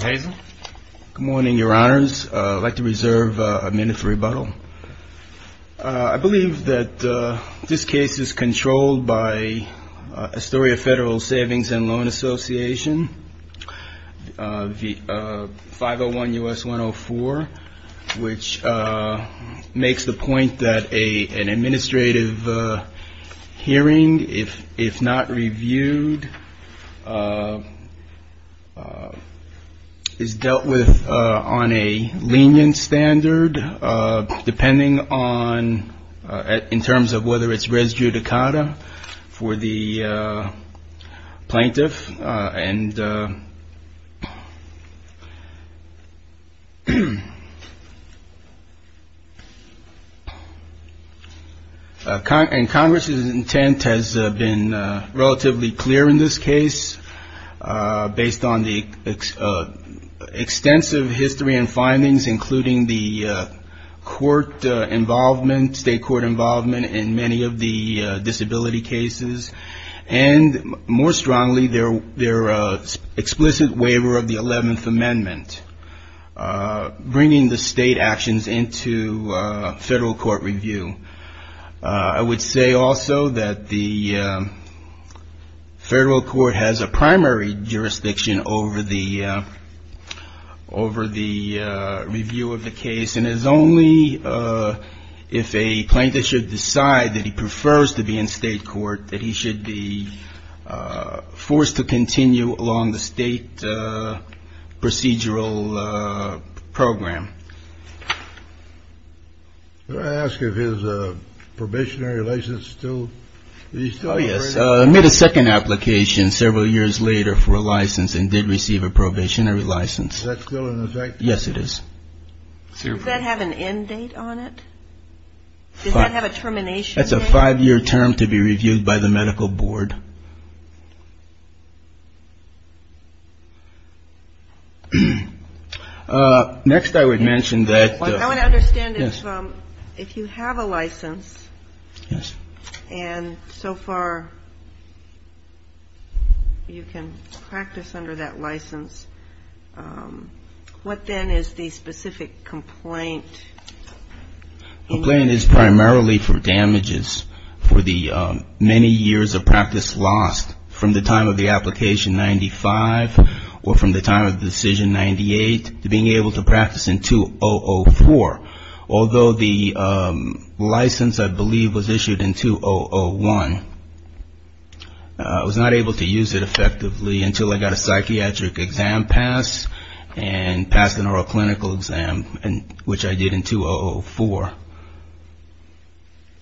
Good morning, your honors. I'd like to reserve a minute for rebuttal. I believe that this case is controlled by Astoria Federal Savings and Loan Association, 501 U.S. 104, which makes the point that an administrative hearing, if not reviewed, is not is dealt with on a lenient standard, depending on, in terms of whether it's res judicata for the plaintiff. And Congress's intent has been relatively clear in this case, based on the extensive history and findings, including the court involvement, state court involvement in many of the disability cases, and, more strongly, their explicit waiver of the 11th Amendment, bringing the state actions into federal court review. I would say also that the federal court has a primary jurisdiction over the review of the case, and it is only if a plaintiff should decide that he prefers to be in state court that he should be forced to continue along the state procedural program. I ask if his probationary license is still. Yes, I made a second application several years later for a license and did receive a probationary license. That's still in effect. Yes, it is. Does that have an end date on it? Does that have a termination? That's a five-year term to be reviewed by the medical board. Next, I would mention that. I want to understand if you have a license, and so far you can practice under that license, what then is the specific complaint? The complaint is primarily for damages for the many years of practice lost from the time of the application, 95, or from the time of the decision, 98, to being able to practice in 2004. Although the license, I believe, was issued in 2001, I was not able to use it effectively until I got a psychiatric exam passed and passed the neuroclinical exam, which I did in 2004.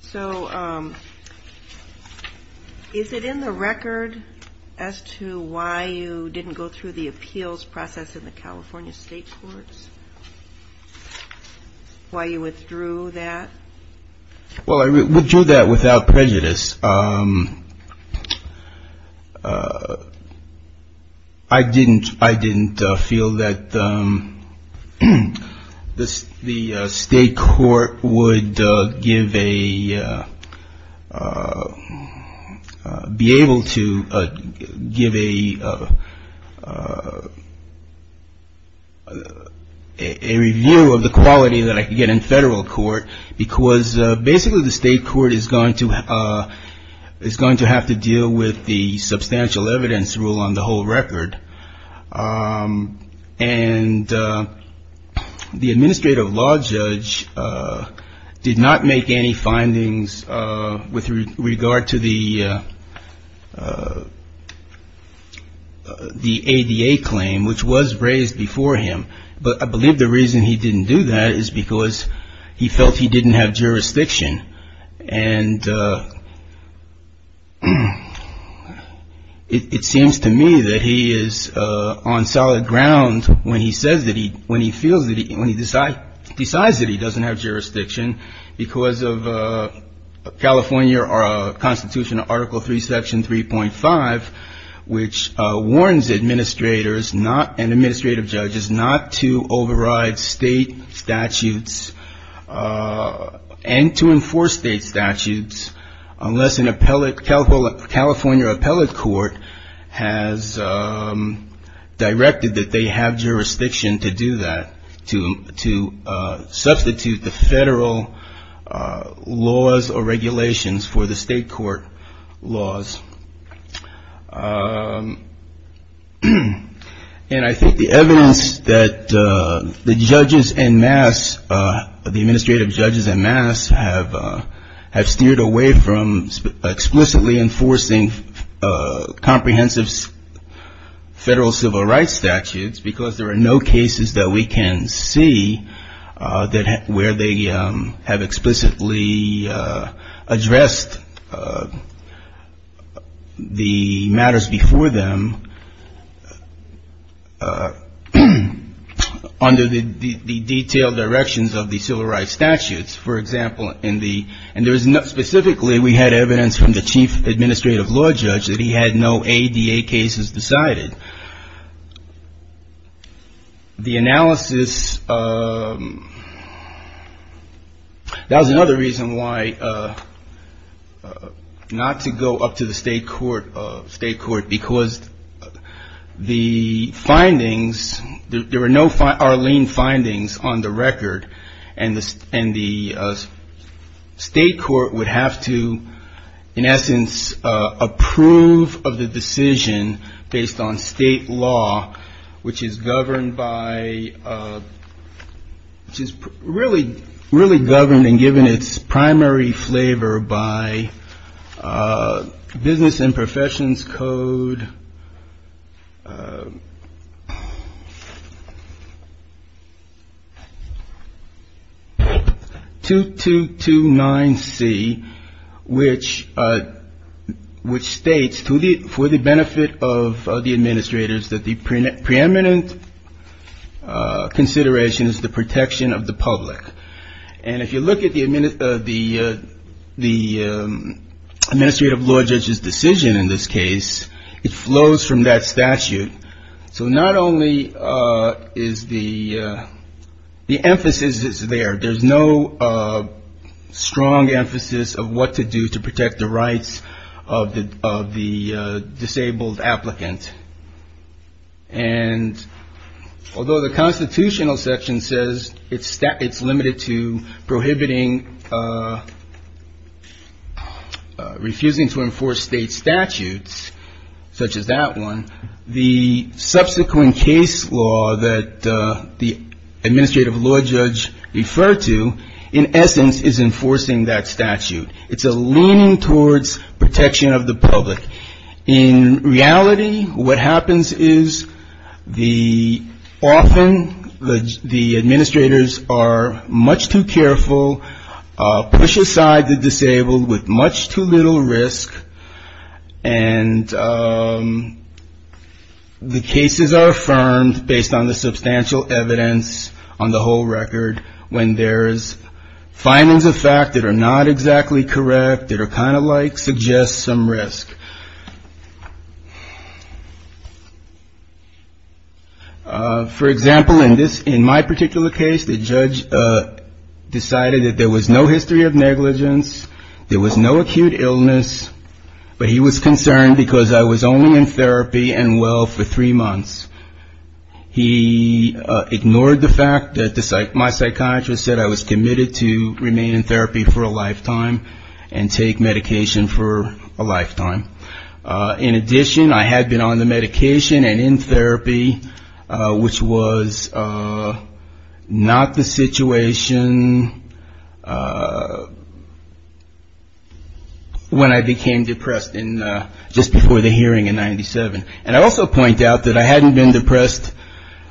So is it in the record as to why you didn't go through the appeals process in the California State Courts? Why you withdrew that? Well, I withdrew that without prejudice. I didn't feel that the state court would be able to give a review of the quality that I could get in federal court because basically the state court is going to have to deal with the substantial evidence rule on the whole record. And the administrative law judge did not make any findings with regard to the ADA claim, which was raised before him. But I believe the reason he didn't do that is because he felt he didn't have jurisdiction. And it seems to me that he is on solid ground when he says that he, when he feels that he, when he decides that he doesn't have jurisdiction because of California Constitution, Article 3, Section 3.5, which warns administrators, and administrative judges, not to override state statutes and to enforce state statutes unless a California appellate court has directed that they have jurisdiction to do that, to substitute the federal laws or regulations for the state court laws. And I think the evidence that the judges en masse, the administrative judges en masse have, have steered away from explicitly enforcing comprehensive federal civil rights statutes because there are no cases that we can see that where they have explicitly addressed the matters before them under the detailed directions of the civil rights statutes. For example, in the, and there was no, specifically we had evidence from the chief administrative law judge that he had no ADA cases decided. The analysis, that was another reason why not to go up to the state court, state court, because the findings, there were no Arlene findings on the record. And the, and the state court would have to, in essence, approve of the decision based on state law, which is governed by, which is really, really governed and given its primary flavor by business and professions code. 2229C, which, which states to the, for the benefit of the administrators that the preeminent consideration is the protection of the public. And if you look at the, the, the administrative law judge's decision in this case, it flows from that statute. So not only is the, the emphasis is there, there's no strong emphasis of what to do to protect the rights of the, of the disabled applicant. And although the constitutional section says it's, it's limited to prohibiting, refusing to enforce state statutes, such as that one, the subsequent case law that the administrative law judge referred to, in essence, is enforcing that statute. It's a leaning towards protection of the public. In reality, what happens is the, often the, the administrators are much too careful, push aside the disabled with much too little risk. For example, in this, in my particular case, the judge decided that there was no history of negligence. There was no acute illness, but he was concerned because I was only in therapy and well for three months. He ignored the fact that the, my psychiatrist said I was committed to remain in therapy for a lifetime and take medication for a lifetime. In addition, I had been on the medication and in therapy, which was not the situation when I became depressed in, just before the hearing in 97. And I also point out that I hadn't been depressed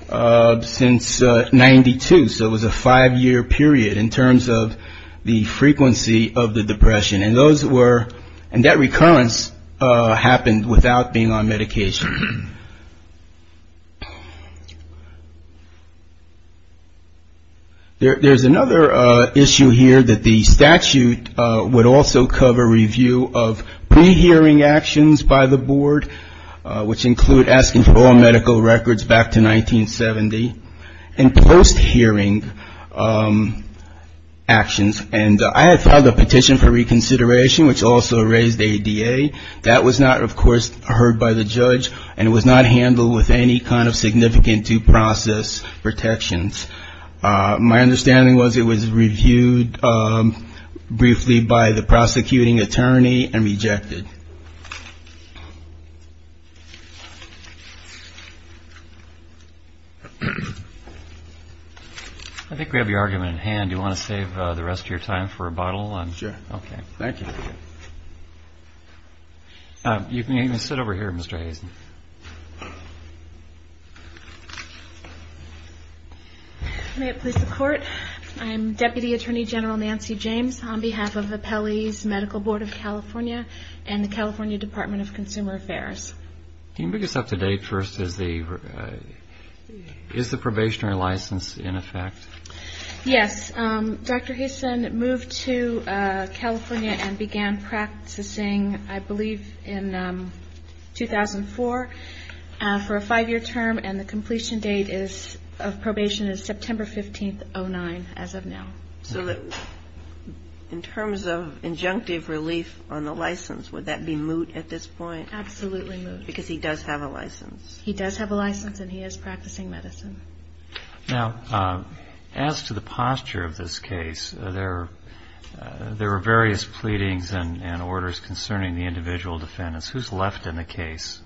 since 92. So it was a five-year period in terms of the frequency of the depression. And those were, and that recurrence happened without being on medication. There's another issue here that the statute would also cover review of pre-hearing actions by the board, which include asking for all medical records back to 1970 and post-hearing actions. And I had filed a petition for reconsideration, which also raised ADA. That was not, of course, heard by the judge and was not handled with any kind of significant due process protections. My understanding was it was reviewed briefly by the prosecuting attorney and rejected. I think we have your argument at hand. Do you want to save the rest of your time for a bottle? Sure. Okay. Thank you. You can sit over here, Mr. Hazen. May it please the court. I am Deputy Attorney General Nancy James on behalf of the Pelley's Medical Board of California and the California Department of Consumer Affairs. Can you make this up to date first? Is the probationary license in effect? Yes. Dr. Hazen moved to California and began practicing, I believe, in 2004 for a five-year term, and the completion date of probation is September 15th, 2009, as of now. So in terms of injunctive relief on the license, would that be moot at this point? Absolutely moot. Because he does have a license. He does have a license and he is practicing medicine. Now, as to the posture of this case, there are various pleadings and orders concerning the individual defendants. Who is left in the case?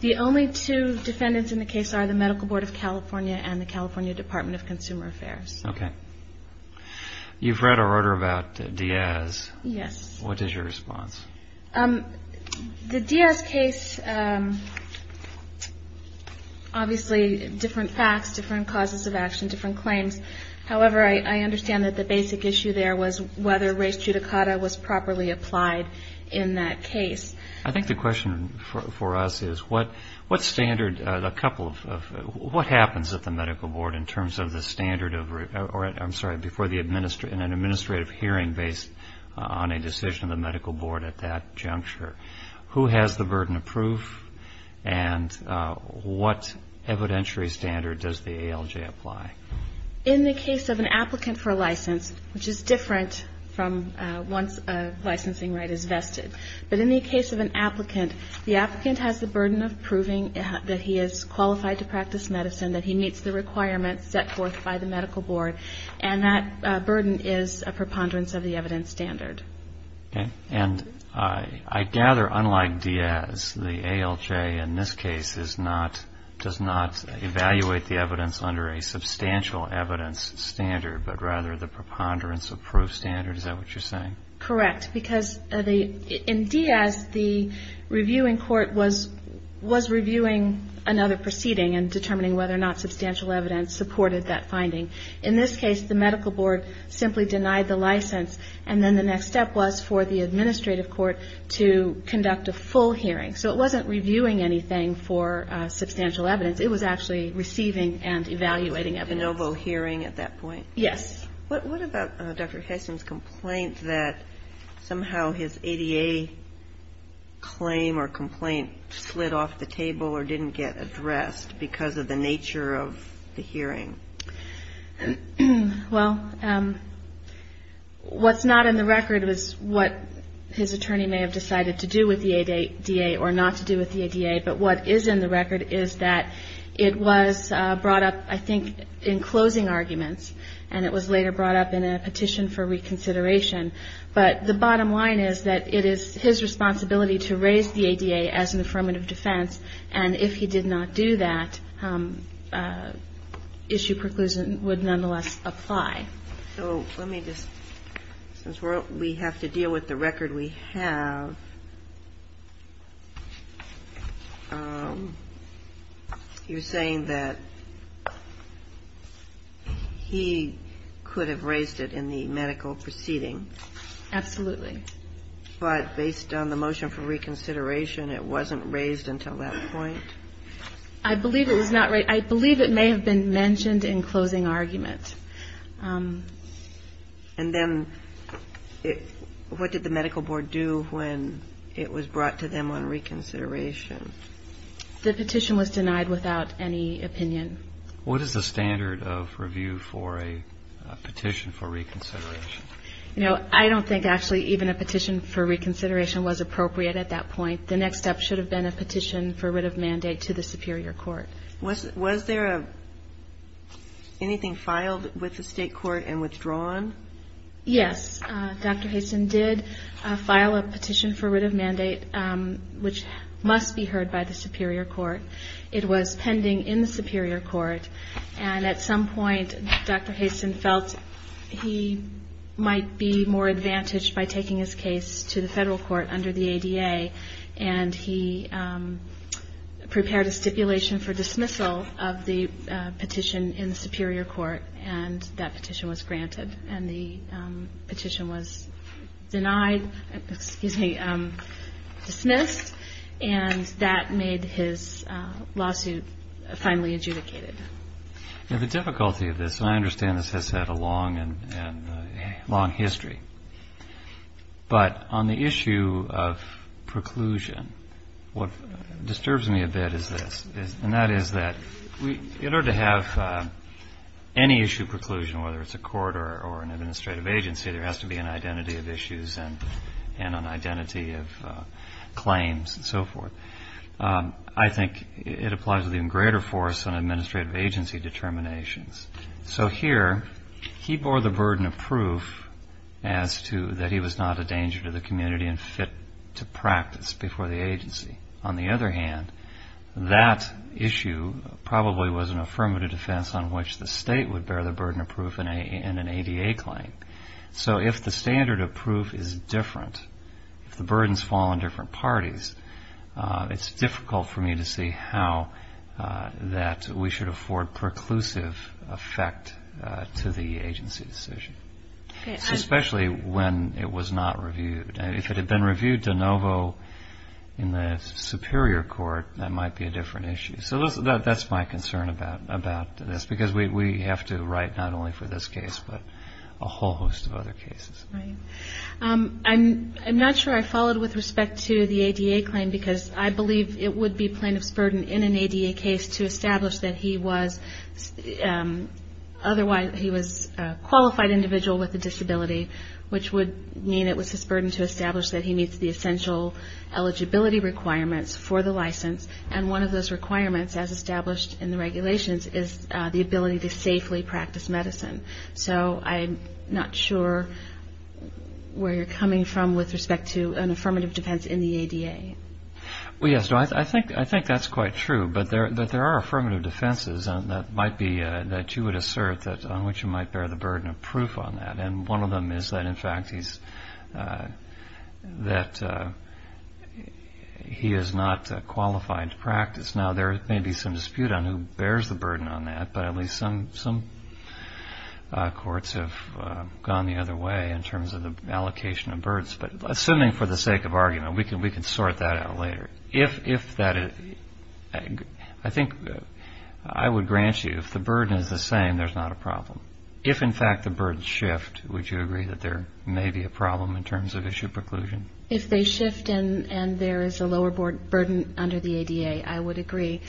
The only two defendants in the case are the Medical Board of California and the California Department of Consumer Affairs. Okay. You've read our order about Diaz. Yes. What is your response? The Diaz case, obviously, different facts, different causes of action, different claims. However, I understand that the basic issue there was whether res judicata was properly applied in that case. I think the question for us is what standard, a couple of, what happens at the Medical Board in terms of the standard of, I'm sorry, before an administrative hearing based on a decision of the Medical Board at that juncture? Who has the burden of proof and what evidentiary standard does the ALJ apply? In the case of an applicant for a license, which is different from once a licensing right is vested, but in the case of an applicant, the applicant has the burden of proving that he is qualified to practice medicine, that he meets the requirements set forth by the Medical Board, and that burden is a preponderance of the evidence standard. Okay. And I gather, unlike Diaz, the ALJ in this case is not, does not evaluate the evidence under a substantial evidence standard, but rather the preponderance of proof standard. Is that what you're saying? Correct. Because in Diaz, the reviewing court was reviewing another proceeding and determining whether or not substantial evidence supported that finding. In this case, the Medical Board simply denied the license, and then the next step was for the administrative court to conduct a full hearing. So it wasn't reviewing anything for substantial evidence. It was actually receiving and evaluating evidence. A de novo hearing at that point? Yes. What about Dr. Hessen's complaint that somehow his ADA claim or complaint slid off the table or didn't get addressed because of the nature of the hearing? Well, what's not in the record is what his attorney may have decided to do with the ADA or not to do with the ADA, but what is in the record is that it was brought up, I think, in closing arguments, and it was later brought up in a petition for reconsideration. But the bottom line is that it is his responsibility to raise the ADA as an affirmative defense, and if he did not do that, issue preclusion would nonetheless apply. So let me just, since we have to deal with the record we have, you're saying that he could have raised it in the medical proceeding? Absolutely. But based on the motion for reconsideration, it wasn't raised until that point? I believe it was not raised. I believe it may have been mentioned in closing argument. And then what did the medical board do when it was brought to them on reconsideration? The petition was denied without any opinion. What is the standard of review for a petition for reconsideration? You know, I don't think actually even a petition for reconsideration was appropriate at that point. The next step should have been a petition for writ of mandate to the superior court. Was there anything filed with the state court and withdrawn? Yes, Dr. Haston did file a petition for writ of mandate, which must be heard by the superior court. It was pending in the superior court, and at some point Dr. Haston felt he might be more advantaged by taking his case to the federal court under the ADA. And he prepared a stipulation for dismissal of the petition in the superior court, and that petition was granted. And the petition was denied, excuse me, dismissed, and that made his lawsuit finally adjudicated. The difficulty of this, and I understand this has had a long history, but on the issue of preclusion, what disturbs me a bit is this, and that is that in order to have any issue preclusion, whether it's a court or an administrative agency, there has to be an identity of issues and an identity of claims and so forth. I think it applies with even greater force on administrative agency determinations. So here, he bore the burden of proof as to that he was not a danger to the community and fit to practice before the agency. On the other hand, that issue probably was an affirmative defense on which the state would bear the burden of proof in an ADA claim. So if the standard of proof is different, if the burdens fall on different parties, it's difficult for me to see how that we should afford preclusive effect to the agency's decision, especially when it was not reviewed. If it had been reviewed de novo in the superior court, that might be a different issue. So that's my concern about this, because we have to write not only for this case, but a whole host of other cases. I'm not sure I followed with respect to the ADA claim, because I believe it would be plaintiff's burden in an ADA case to establish that he was a qualified individual with a disability, which would mean it was his burden to establish that he meets the essential eligibility requirements for the license, and one of those requirements, as established in the regulations, is the ability to safely practice medicine. So I'm not sure where you're coming from with respect to an affirmative defense in the ADA. Yes, I think that's quite true, but there are affirmative defenses that you would assert on which you might bear the burden of proof on that, and one of them is that, in fact, he is not qualified to practice. Now, there may be some dispute on who bears the burden on that, but at least some courts have gone the other way in terms of the allocation of burdens. But assuming for the sake of argument, we can sort that out later. I think I would grant you if the burden is the same, there's not a problem. If, in fact, the burdens shift, would you agree that there may be a problem in terms of issue preclusion? If they shift and there is a lower burden under the ADA, I would agree.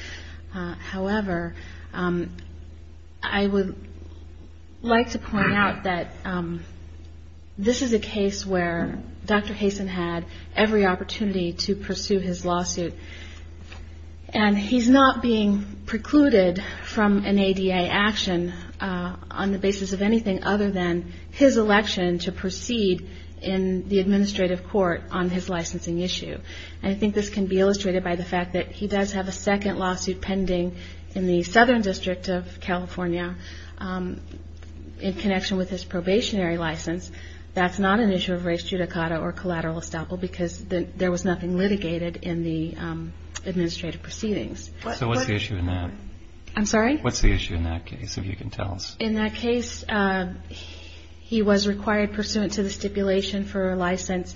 However, I would like to point out that this is a case where Dr. Hasen had every opportunity to pursue his lawsuit, and he's not being precluded from an ADA action on the basis of anything other than his election to proceed in the administrative court on his licensing issue. And I think this can be illustrated by the fact that he does have a second lawsuit pending in the Southern District of California in connection with his probationary license. That's not an issue of res judicata or collateral estoppel because there was nothing litigated in the administrative proceedings. So what's the issue in that? I'm sorry? What's the issue in that case, if you can tell us? In that case, he was required pursuant to the stipulation for a license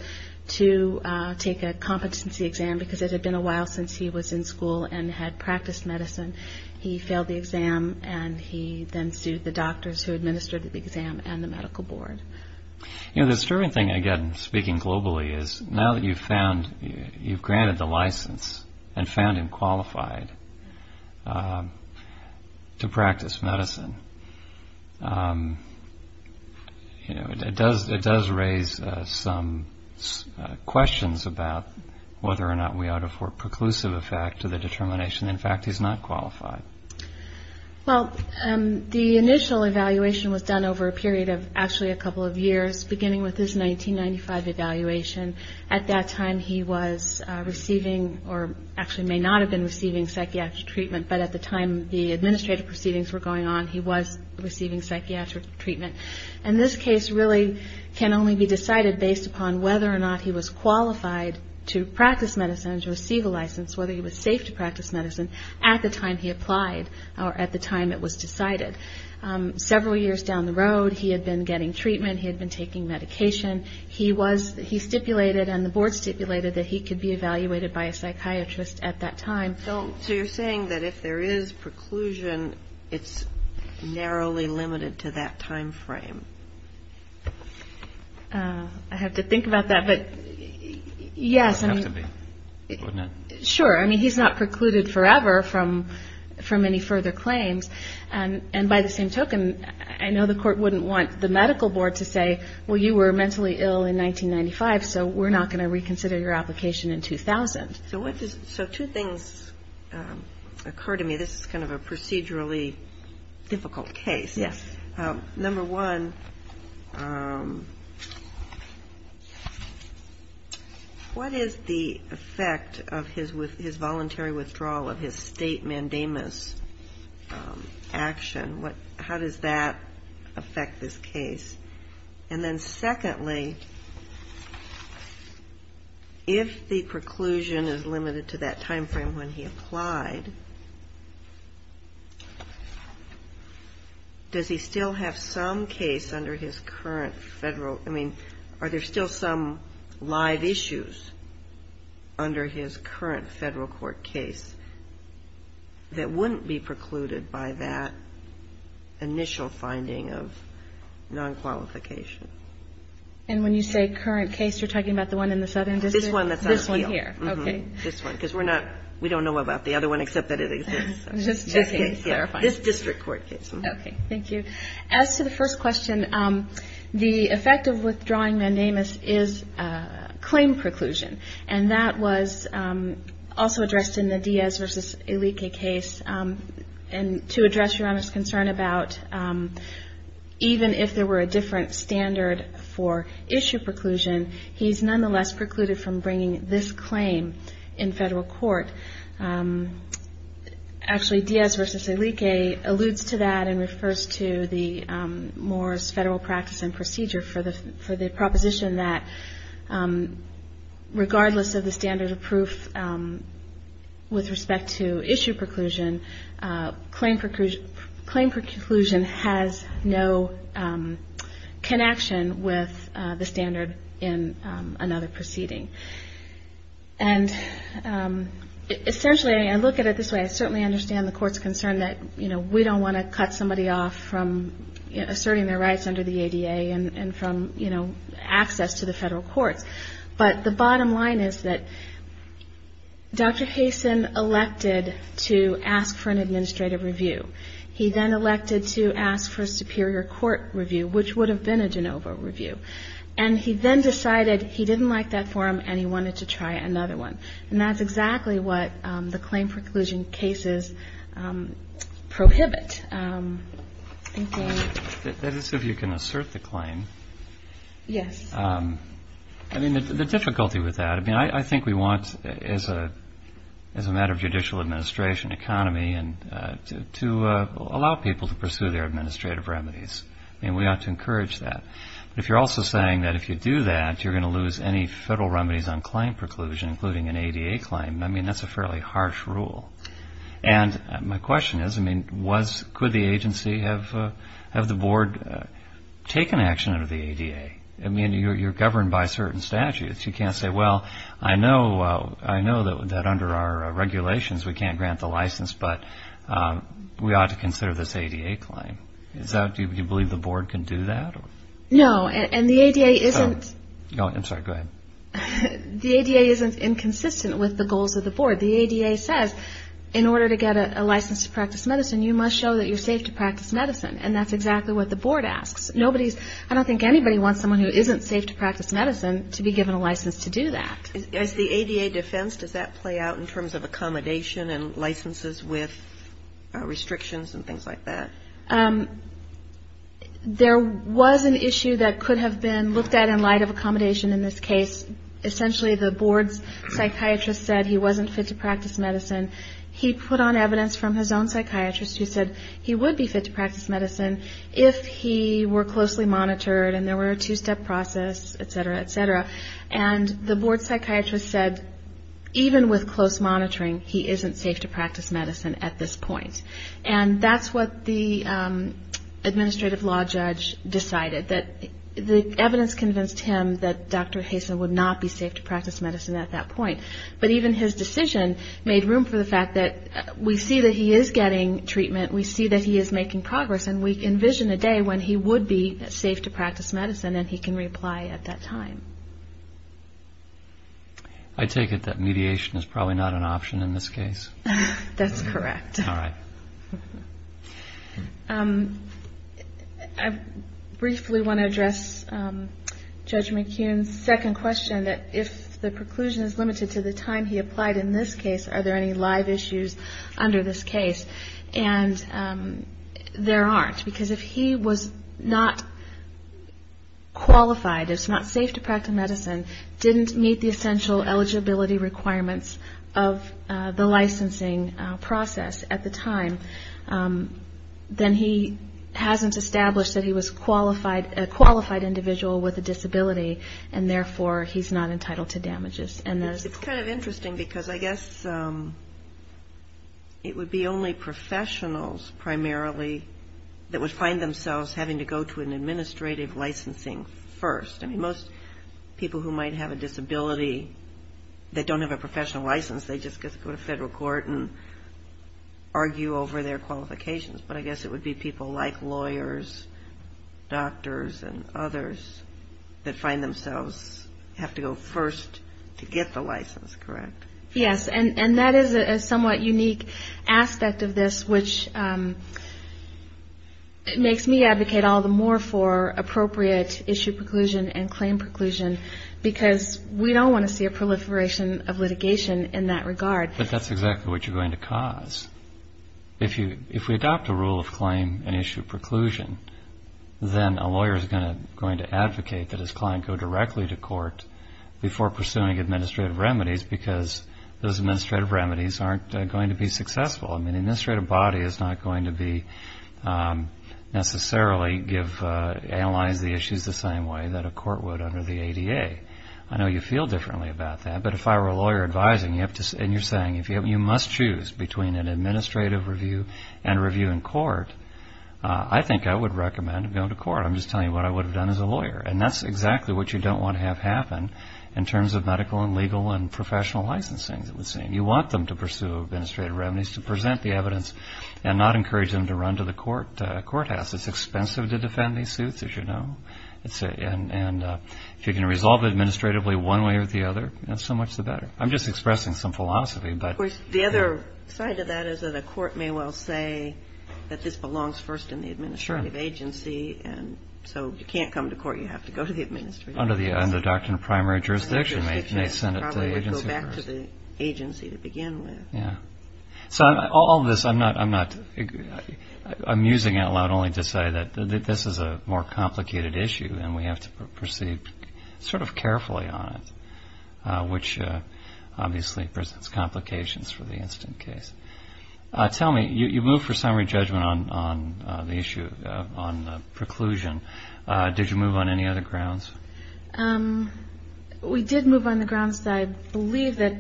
to take a competency exam because it had been a while since he was in school and had practiced medicine. He failed the exam, and he then sued the doctors who administered the exam and the medical board. The disturbing thing, again, speaking globally, is now that you've granted the license and found him qualified to practice medicine, it does raise some questions about whether or not we ought to afford preclusive effect to the determination. In fact, he's not qualified. Well, the initial evaluation was done over a period of actually a couple of years, beginning with his 1995 evaluation. At that time, he was receiving or actually may not have been receiving psychiatric treatment, but at the time the administrative proceedings were going on, he was receiving psychiatric treatment. And this case really can only be decided based upon whether or not he was qualified to practice medicine and to receive a license, whether he was safe to practice medicine at the time he applied or at the time it was decided. Several years down the road, he had been getting treatment. He had been taking medication. He stipulated and the board stipulated that he could be evaluated by a psychiatrist at that time. So you're saying that if there is preclusion, it's narrowly limited to that time frame? I have to think about that, but yes. It would have to be, wouldn't it? Sure. I mean, he's not precluded forever from any further claims. And by the same token, I know the court wouldn't want the medical board to say, well, you were mentally ill in 1995, so we're not going to reconsider your application in 2000. So two things occur to me. This is kind of a procedurally difficult case. Yes. Number one, what is the effect of his voluntary withdrawal of his state mandamus action? How does that affect this case? And then secondly, if the preclusion is limited to that time frame when he applied, does he still have some case under his current federal, I mean, are there still some live issues under his current federal court case that wouldn't be precluded by that initial finding of non-qualification? And when you say current case, you're talking about the one in the southern district? This one that's on appeal. This one here. Okay. This one, because we're not, we don't know about the other one except that it exists. Just clarifying. This district court case. Okay. Thank you. As to the first question, the effect of withdrawing mandamus is claim preclusion, and that was also addressed in the Diaz v. Ilique case. And to address Your Honor's concern about even if there were a different standard for issue preclusion, he's nonetheless precluded from bringing this claim in federal court. Actually, Diaz v. Ilique alludes to that and refers to the Moore's federal practice and procedure for the proposition that, regardless of the standard of proof with respect to issue preclusion, claim preclusion has no connection with the standard in another proceeding. And essentially, I look at it this way, I certainly understand the court's concern that, you know, we don't want to cut somebody off from asserting their rights under the ADA and from, you know, access to the federal courts. But the bottom line is that Dr. Hasen elected to ask for an administrative review. He then elected to ask for a superior court review, which would have been a de novo review. And he then decided he didn't like that forum and he wanted to try another one. And that's exactly what the claim preclusion cases prohibit. Thank you. That is if you can assert the claim. Yes. I mean, the difficulty with that, I mean, I think we want as a matter of judicial administration, economy, to allow people to pursue their administrative remedies. I mean, we ought to encourage that. But if you're also saying that if you do that, you're going to lose any federal remedies on claim preclusion, including an ADA claim. I mean, that's a fairly harsh rule. And my question is, I mean, could the agency have the board take an action under the ADA? I mean, you're governed by certain statutes. You can't say, well, I know that under our regulations we can't grant the license, but we ought to consider this ADA claim. Do you believe the board can do that? No, and the ADA isn't inconsistent with the goals of the board. The ADA says in order to get a license to practice medicine, you must show that you're safe to practice medicine. And that's exactly what the board asks. I don't think anybody wants someone who isn't safe to practice medicine to be given a license to do that. As the ADA defense, does that play out in terms of accommodation and licenses with restrictions and things like that? There was an issue that could have been looked at in light of accommodation in this case. Essentially, the board's psychiatrist said he wasn't fit to practice medicine. He put on evidence from his own psychiatrist who said he would be fit to practice medicine if he were closely monitored and there were a two-step process, et cetera, et cetera. And the board psychiatrist said even with close monitoring, he isn't safe to practice medicine at this point. And that's what the administrative law judge decided, that the evidence convinced him that Dr. Haysa would not be safe to practice medicine at that point. But even his decision made room for the fact that we see that he is getting treatment, we see that he is making progress, and we envision a day when he would be safe to practice medicine and he can reapply at that time. I take it that mediation is probably not an option in this case? That's correct. All right. I briefly want to address Judge McKeon's second question, that if the preclusion is limited to the time he applied in this case, are there any live issues under this case? And there aren't, because if he was not qualified, if it's not safe to practice medicine, didn't meet the essential eligibility requirements of the licensing process at the time, then he hasn't established that he was a qualified individual with a disability, and therefore he's not entitled to damages. It's kind of interesting because I guess it would be only professionals primarily that would find themselves having to go to an administrative licensing first. I mean, most people who might have a disability that don't have a professional license, they just go to federal court and argue over their qualifications, but I guess it would be people like lawyers, doctors, and others that find themselves have to go first to get the license, correct? Yes, and that is a somewhat unique aspect of this, which makes me advocate all the more for appropriate issue preclusion and claim preclusion, because we don't want to see a proliferation of litigation in that regard. But that's exactly what you're going to cause. If we adopt a rule of claim and issue preclusion, then a lawyer is going to advocate that his client go directly to court before pursuing administrative remedies, because those administrative remedies aren't going to be successful. I mean, the administrative body is not going to necessarily analyze the issues the same way that a court would under the ADA. I know you feel differently about that, but if I were a lawyer advising, and you're saying you must choose between an administrative review and a review in court, I think I would recommend going to court. I'm just telling you what I would have done as a lawyer, and that's exactly what you don't want to have happen in terms of medical and legal and professional licensing, it would seem. You want them to pursue administrative remedies to present the evidence and not encourage them to run to the courthouse. It's expensive to defend these suits, as you know. And if you can resolve it administratively one way or the other, so much the better. I'm just expressing some philosophy. The other side of that is that a court may well say that this belongs first in the administrative agency, and so if you can't come to court, you have to go to the administrative agency. Under the doctrine of primary jurisdiction, they send it to the agency first. Go back to the agency to begin with. Yeah. So all of this, I'm using it aloud only to say that this is a more complicated issue, and we have to proceed sort of carefully on it, which obviously presents complications for the instant case. Tell me, you moved for summary judgment on the issue, on the preclusion. Did you move on any other grounds? We did move on the grounds that I believe that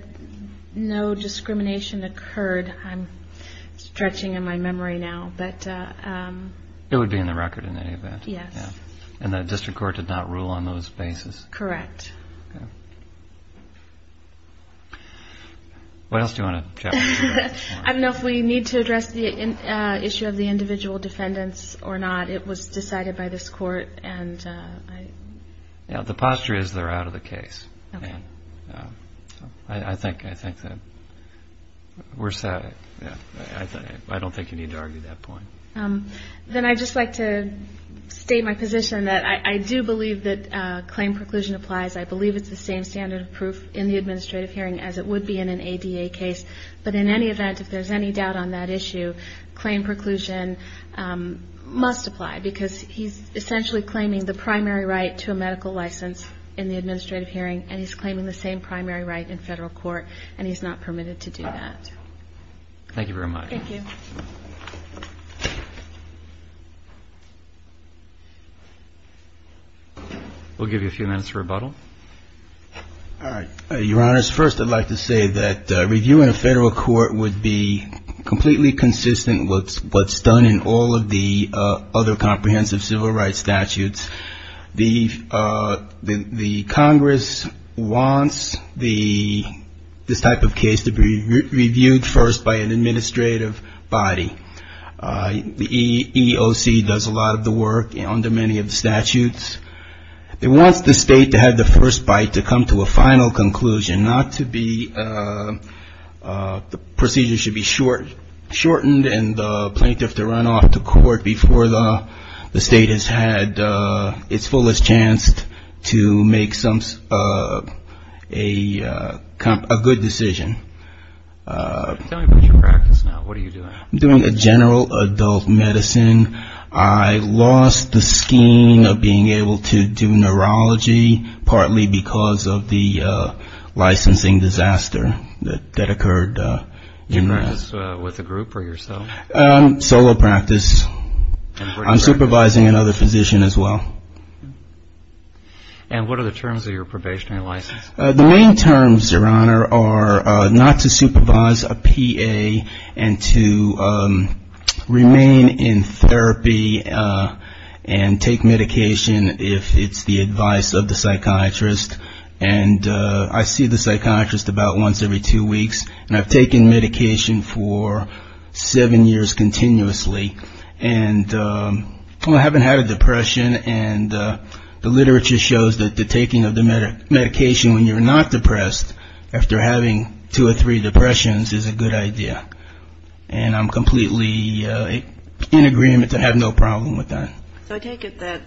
no discrimination occurred. I'm stretching in my memory now. It would be in the record in any event? Yes. And the district court did not rule on those bases? Correct. What else do you want to chat with me about? I don't know if we need to address the issue of the individual defendants or not. It was decided by this court. The posture is they're out of the case. Okay. I think that we're set. I don't think you need to argue that point. Then I'd just like to state my position that I do believe that claim preclusion applies. I believe it's the same standard of proof in the administrative hearing as it would be in an ADA case, but in any event, if there's any doubt on that issue, claim preclusion must apply because he's essentially claiming the primary right to a medical license in the administrative hearing and he's claiming the same primary right in federal court and he's not permitted to do that. Thank you very much. Your Honor, first I'd like to say that reviewing a federal court would be completely consistent with what's done in all of the other comprehensive civil rights statutes. The Congress wants this type of case to be reviewed first by an administrative body. The EEOC does a lot of the work under many of the statutes. It wants the state to have the first bite to come to a final conclusion, not to be the procedure should be shortened and the plaintiff to run off to court before the state has had its fullest chance to make a good decision. Tell me about your practice now. What are you doing? I'm doing a general adult medicine. I lost the scheme of being able to do neurology partly because of the licensing disaster that occurred. Did you practice with a group or yourself? Solo practice. I'm supervising another physician as well. And what are the terms of your probationary license? The main terms, Your Honor, are not to supervise a PA and to remain in therapy and take medication if it's the advice of the psychiatrist. And I see the psychiatrist about once every two weeks. And I've taken medication for seven years continuously. And I haven't had a depression. And the literature shows that the taking of the medication was a good idea. And when you're not depressed, after having two or three depressions is a good idea. And I'm completely in agreement to have no problem with that. So I take it that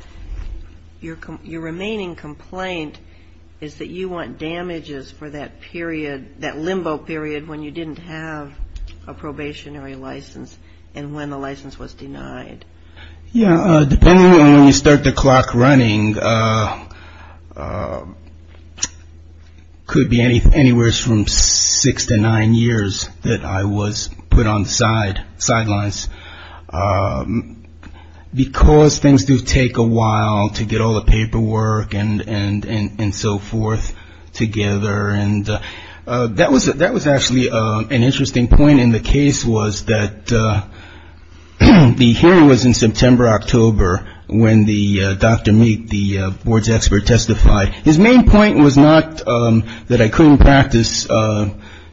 your remaining complaint is that you want damages for that period, that limbo period when you didn't have a probationary license and when the license was denied. Yeah. Depending on when you start the clock running, it could be anywhere from six to nine years that I was put on the sidelines. Because things do take a while to get all the paperwork and so forth together. That was actually an interesting point in the case was that the hearing was in September, October, when Dr. Meek, the board's expert, testified. His main point was not that I couldn't practice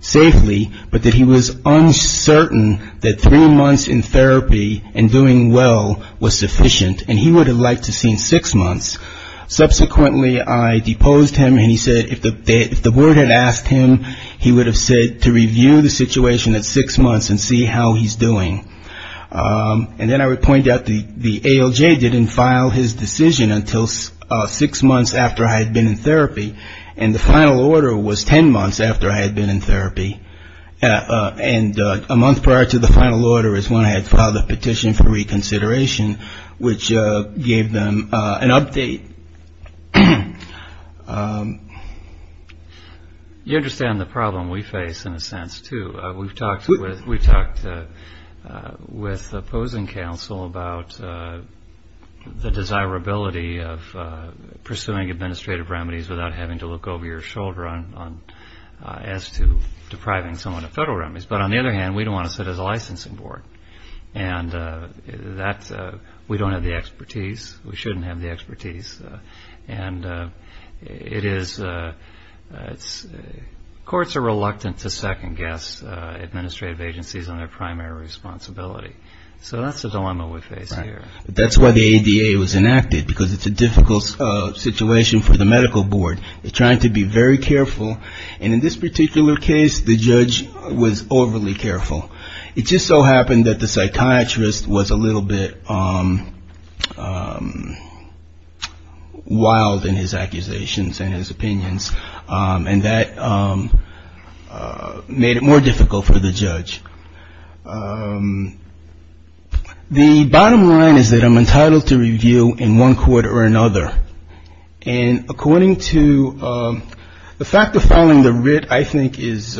safely, but that he was uncertain that three months in therapy and doing well was sufficient. And he would have liked to have seen six months. Subsequently, I deposed him and he said if the board had asked him, he would have said to review the situation at six months and see how he's doing. And then I would point out the ALJ didn't file his decision until six months after I had been in therapy and the final order was ten months after I had been in therapy. And a month prior to the final order is when I had filed a petition for reconsideration, which gave them an update. You understand the problem we face in a sense, too. We've talked with opposing counsel about the desirability of pursuing administrative remedies without having to look over your shoulder as to depriving someone of federal remedies. But on the other hand, we don't want to sit as a licensing board. And we don't have the expertise. We shouldn't have the expertise. And courts are reluctant to second-guess administrative agencies on their primary responsibility. So that's the dilemma we face here. That's why the ADA was enacted, because it's a difficult situation for the medical board. They're trying to be very careful, and in this particular case, the judge was overly careful. It just so happened that the psychiatrist was a little bit wild in his accusations and his opinions. And that made it more difficult for the judge. The bottom line is that I'm entitled to review in one court or another. And according to the fact of filing the writ, I think is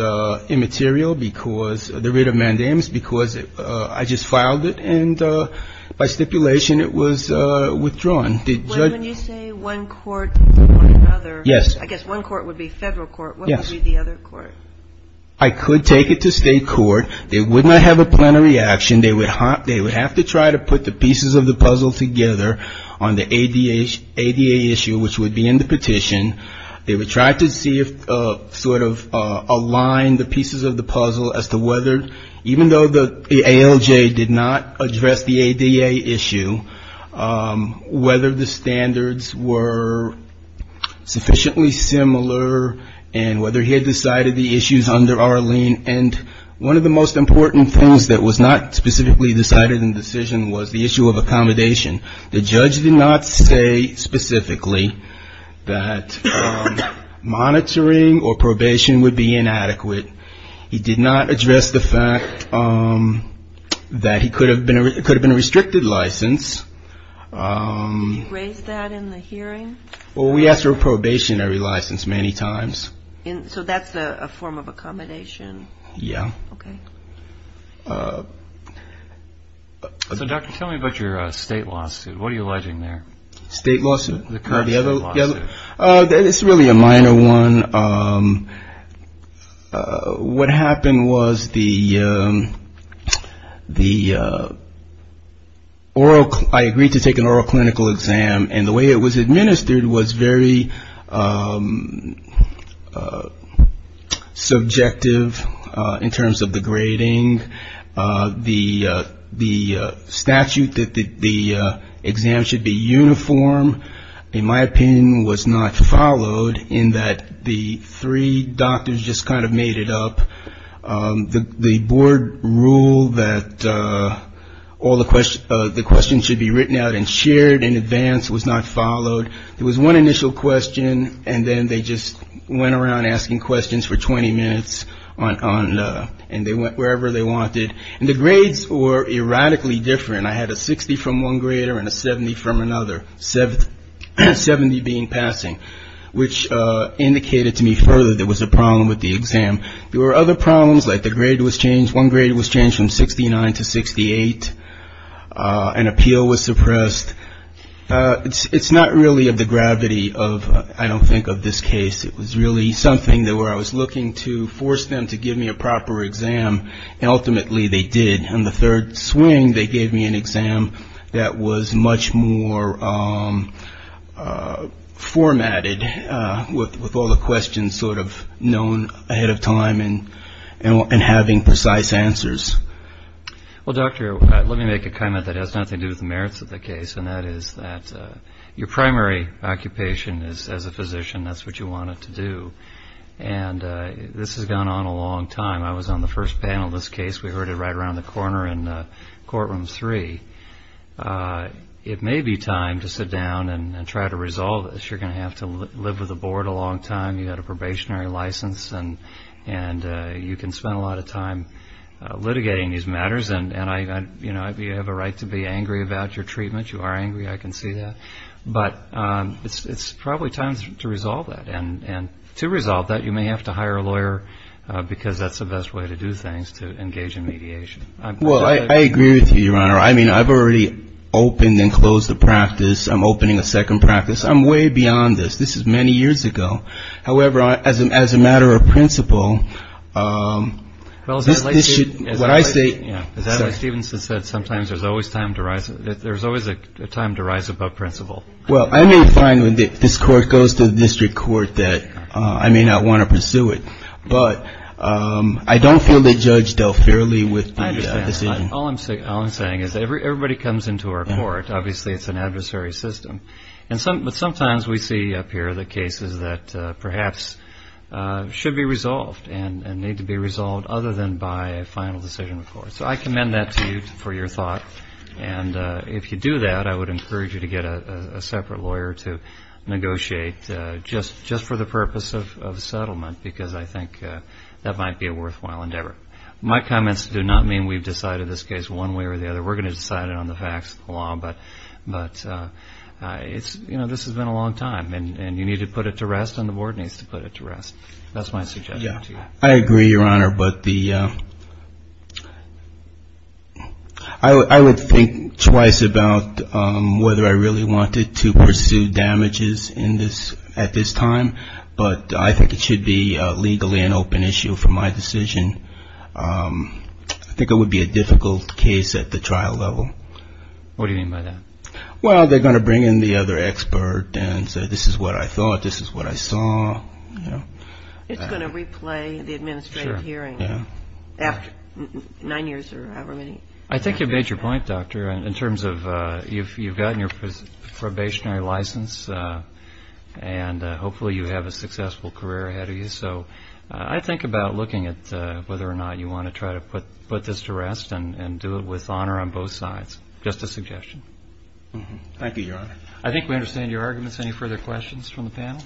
immaterial because the writ of mandamus, because I just filed it, and by stipulation it was withdrawn. When you say one court or another, I guess one court would be federal court. What would be the other court? I could take it to state court. They would not have a plenary action. They would have to try to put the pieces of the puzzle together on the ADA issue, which would be in the petition. They would try to see if, sort of align the pieces of the puzzle as to whether, even though the ALJ did not address the ADA issue, whether the standards were sufficiently similar, and whether he had decided the issues under our lien, and one of the most important things that was not specifically decided in the decision was the issue of accommodation. The judge did not say specifically that monitoring or probation would be inadequate. He did not address the fact that he could have been a restricted license. You raised that in the hearing? Well, we asked for a probationary license many times. So that's a form of accommodation? Yeah. So, Doctor, tell me about your state lawsuit. What are you alleging there? State lawsuit? It's really a minor one. What happened was I agreed to take an oral clinical exam, and the way it was administered was very subjective in terms of the grading. The statute that the exam should be uniform, in my opinion, was not followed in that the three doctors just kind of made it up. The board rule that all the questions should be written out and shared in advance was not followed. It was one initial question, and then they just went around asking questions for 20 minutes, and they went wherever they wanted, and the grades were erratically different. I had a 60 from one grader and a 70 from another, 70 being passing, which indicated to me further there was a problem with the exam. There were other problems, like the grade was changed. One grade was changed from 69 to 68. An appeal was suppressed. It's not really of the gravity of, I don't think, of this case. It was really something where I was looking to force them to give me a proper exam, and ultimately they did. In the third swing, they gave me an exam that was much more formatted, with all the questions sort of known ahead of time and having precise answers. Well, Doctor, let me make a comment that has nothing to do with the merits of the case, and that is that your primary occupation as a physician, that's what you wanted to do, and this has gone on a long time. I was on the first panel of this case. We heard it right around the corner in courtroom three. It may be time to sit down and try to resolve this. You're going to have to live with the board a long time. You had a probationary license, and you can spend a lot of time litigating these matters, and you have a right to be angry about your treatment. You are angry. I can see that. But it's probably time to resolve that, and to resolve that, you may have to hire a lawyer because that's the best way to do things, to engage in mediation. Well, I agree with you, Your Honor. I mean, I've already opened and closed a practice. I'm opening a second practice. I'm way beyond this. This is many years ago. However, as a matter of principle, this should, when I say- Well, as Adlai Stevenson said, sometimes there's always a time to rise above principle. Well, I may find when this court goes to the district court that I may not want to pursue it, but I don't feel the judge dealt fairly with the decision. All I'm saying is everybody comes into our court. Obviously, it's an adversary system, but sometimes we see up here the cases that perhaps should be resolved and need to be resolved other than by a final decision of the court. So I commend that to you for your thought, and if you do that, I would encourage you to get a separate lawyer to negotiate just for the purpose of settlement because I think that might be a worthwhile endeavor. My comments do not mean we've decided this case one way or the other. We're going to decide it on the facts of the law, but this has been a long time, and you need to put it to rest and the board needs to put it to rest. I agree, Your Honor, but I would think twice about whether I really wanted to pursue damages at this time, but I think it should be legally an open issue for my decision. I think it would be a difficult case at the trial level. What do you mean by that? Well, they're going to bring in the other expert and say this is what I thought, this is what I saw. It's going to replay the administrative hearing after nine years or however many. I think you've made your point, Doctor, in terms of you've gotten your probationary license, and hopefully you have a successful career ahead of you, so I think about looking at whether or not you want to try to put this to rest and do it with honor on both sides, just a suggestion. Thank you, Your Honor. I think we understand your arguments. Any further questions from the panel?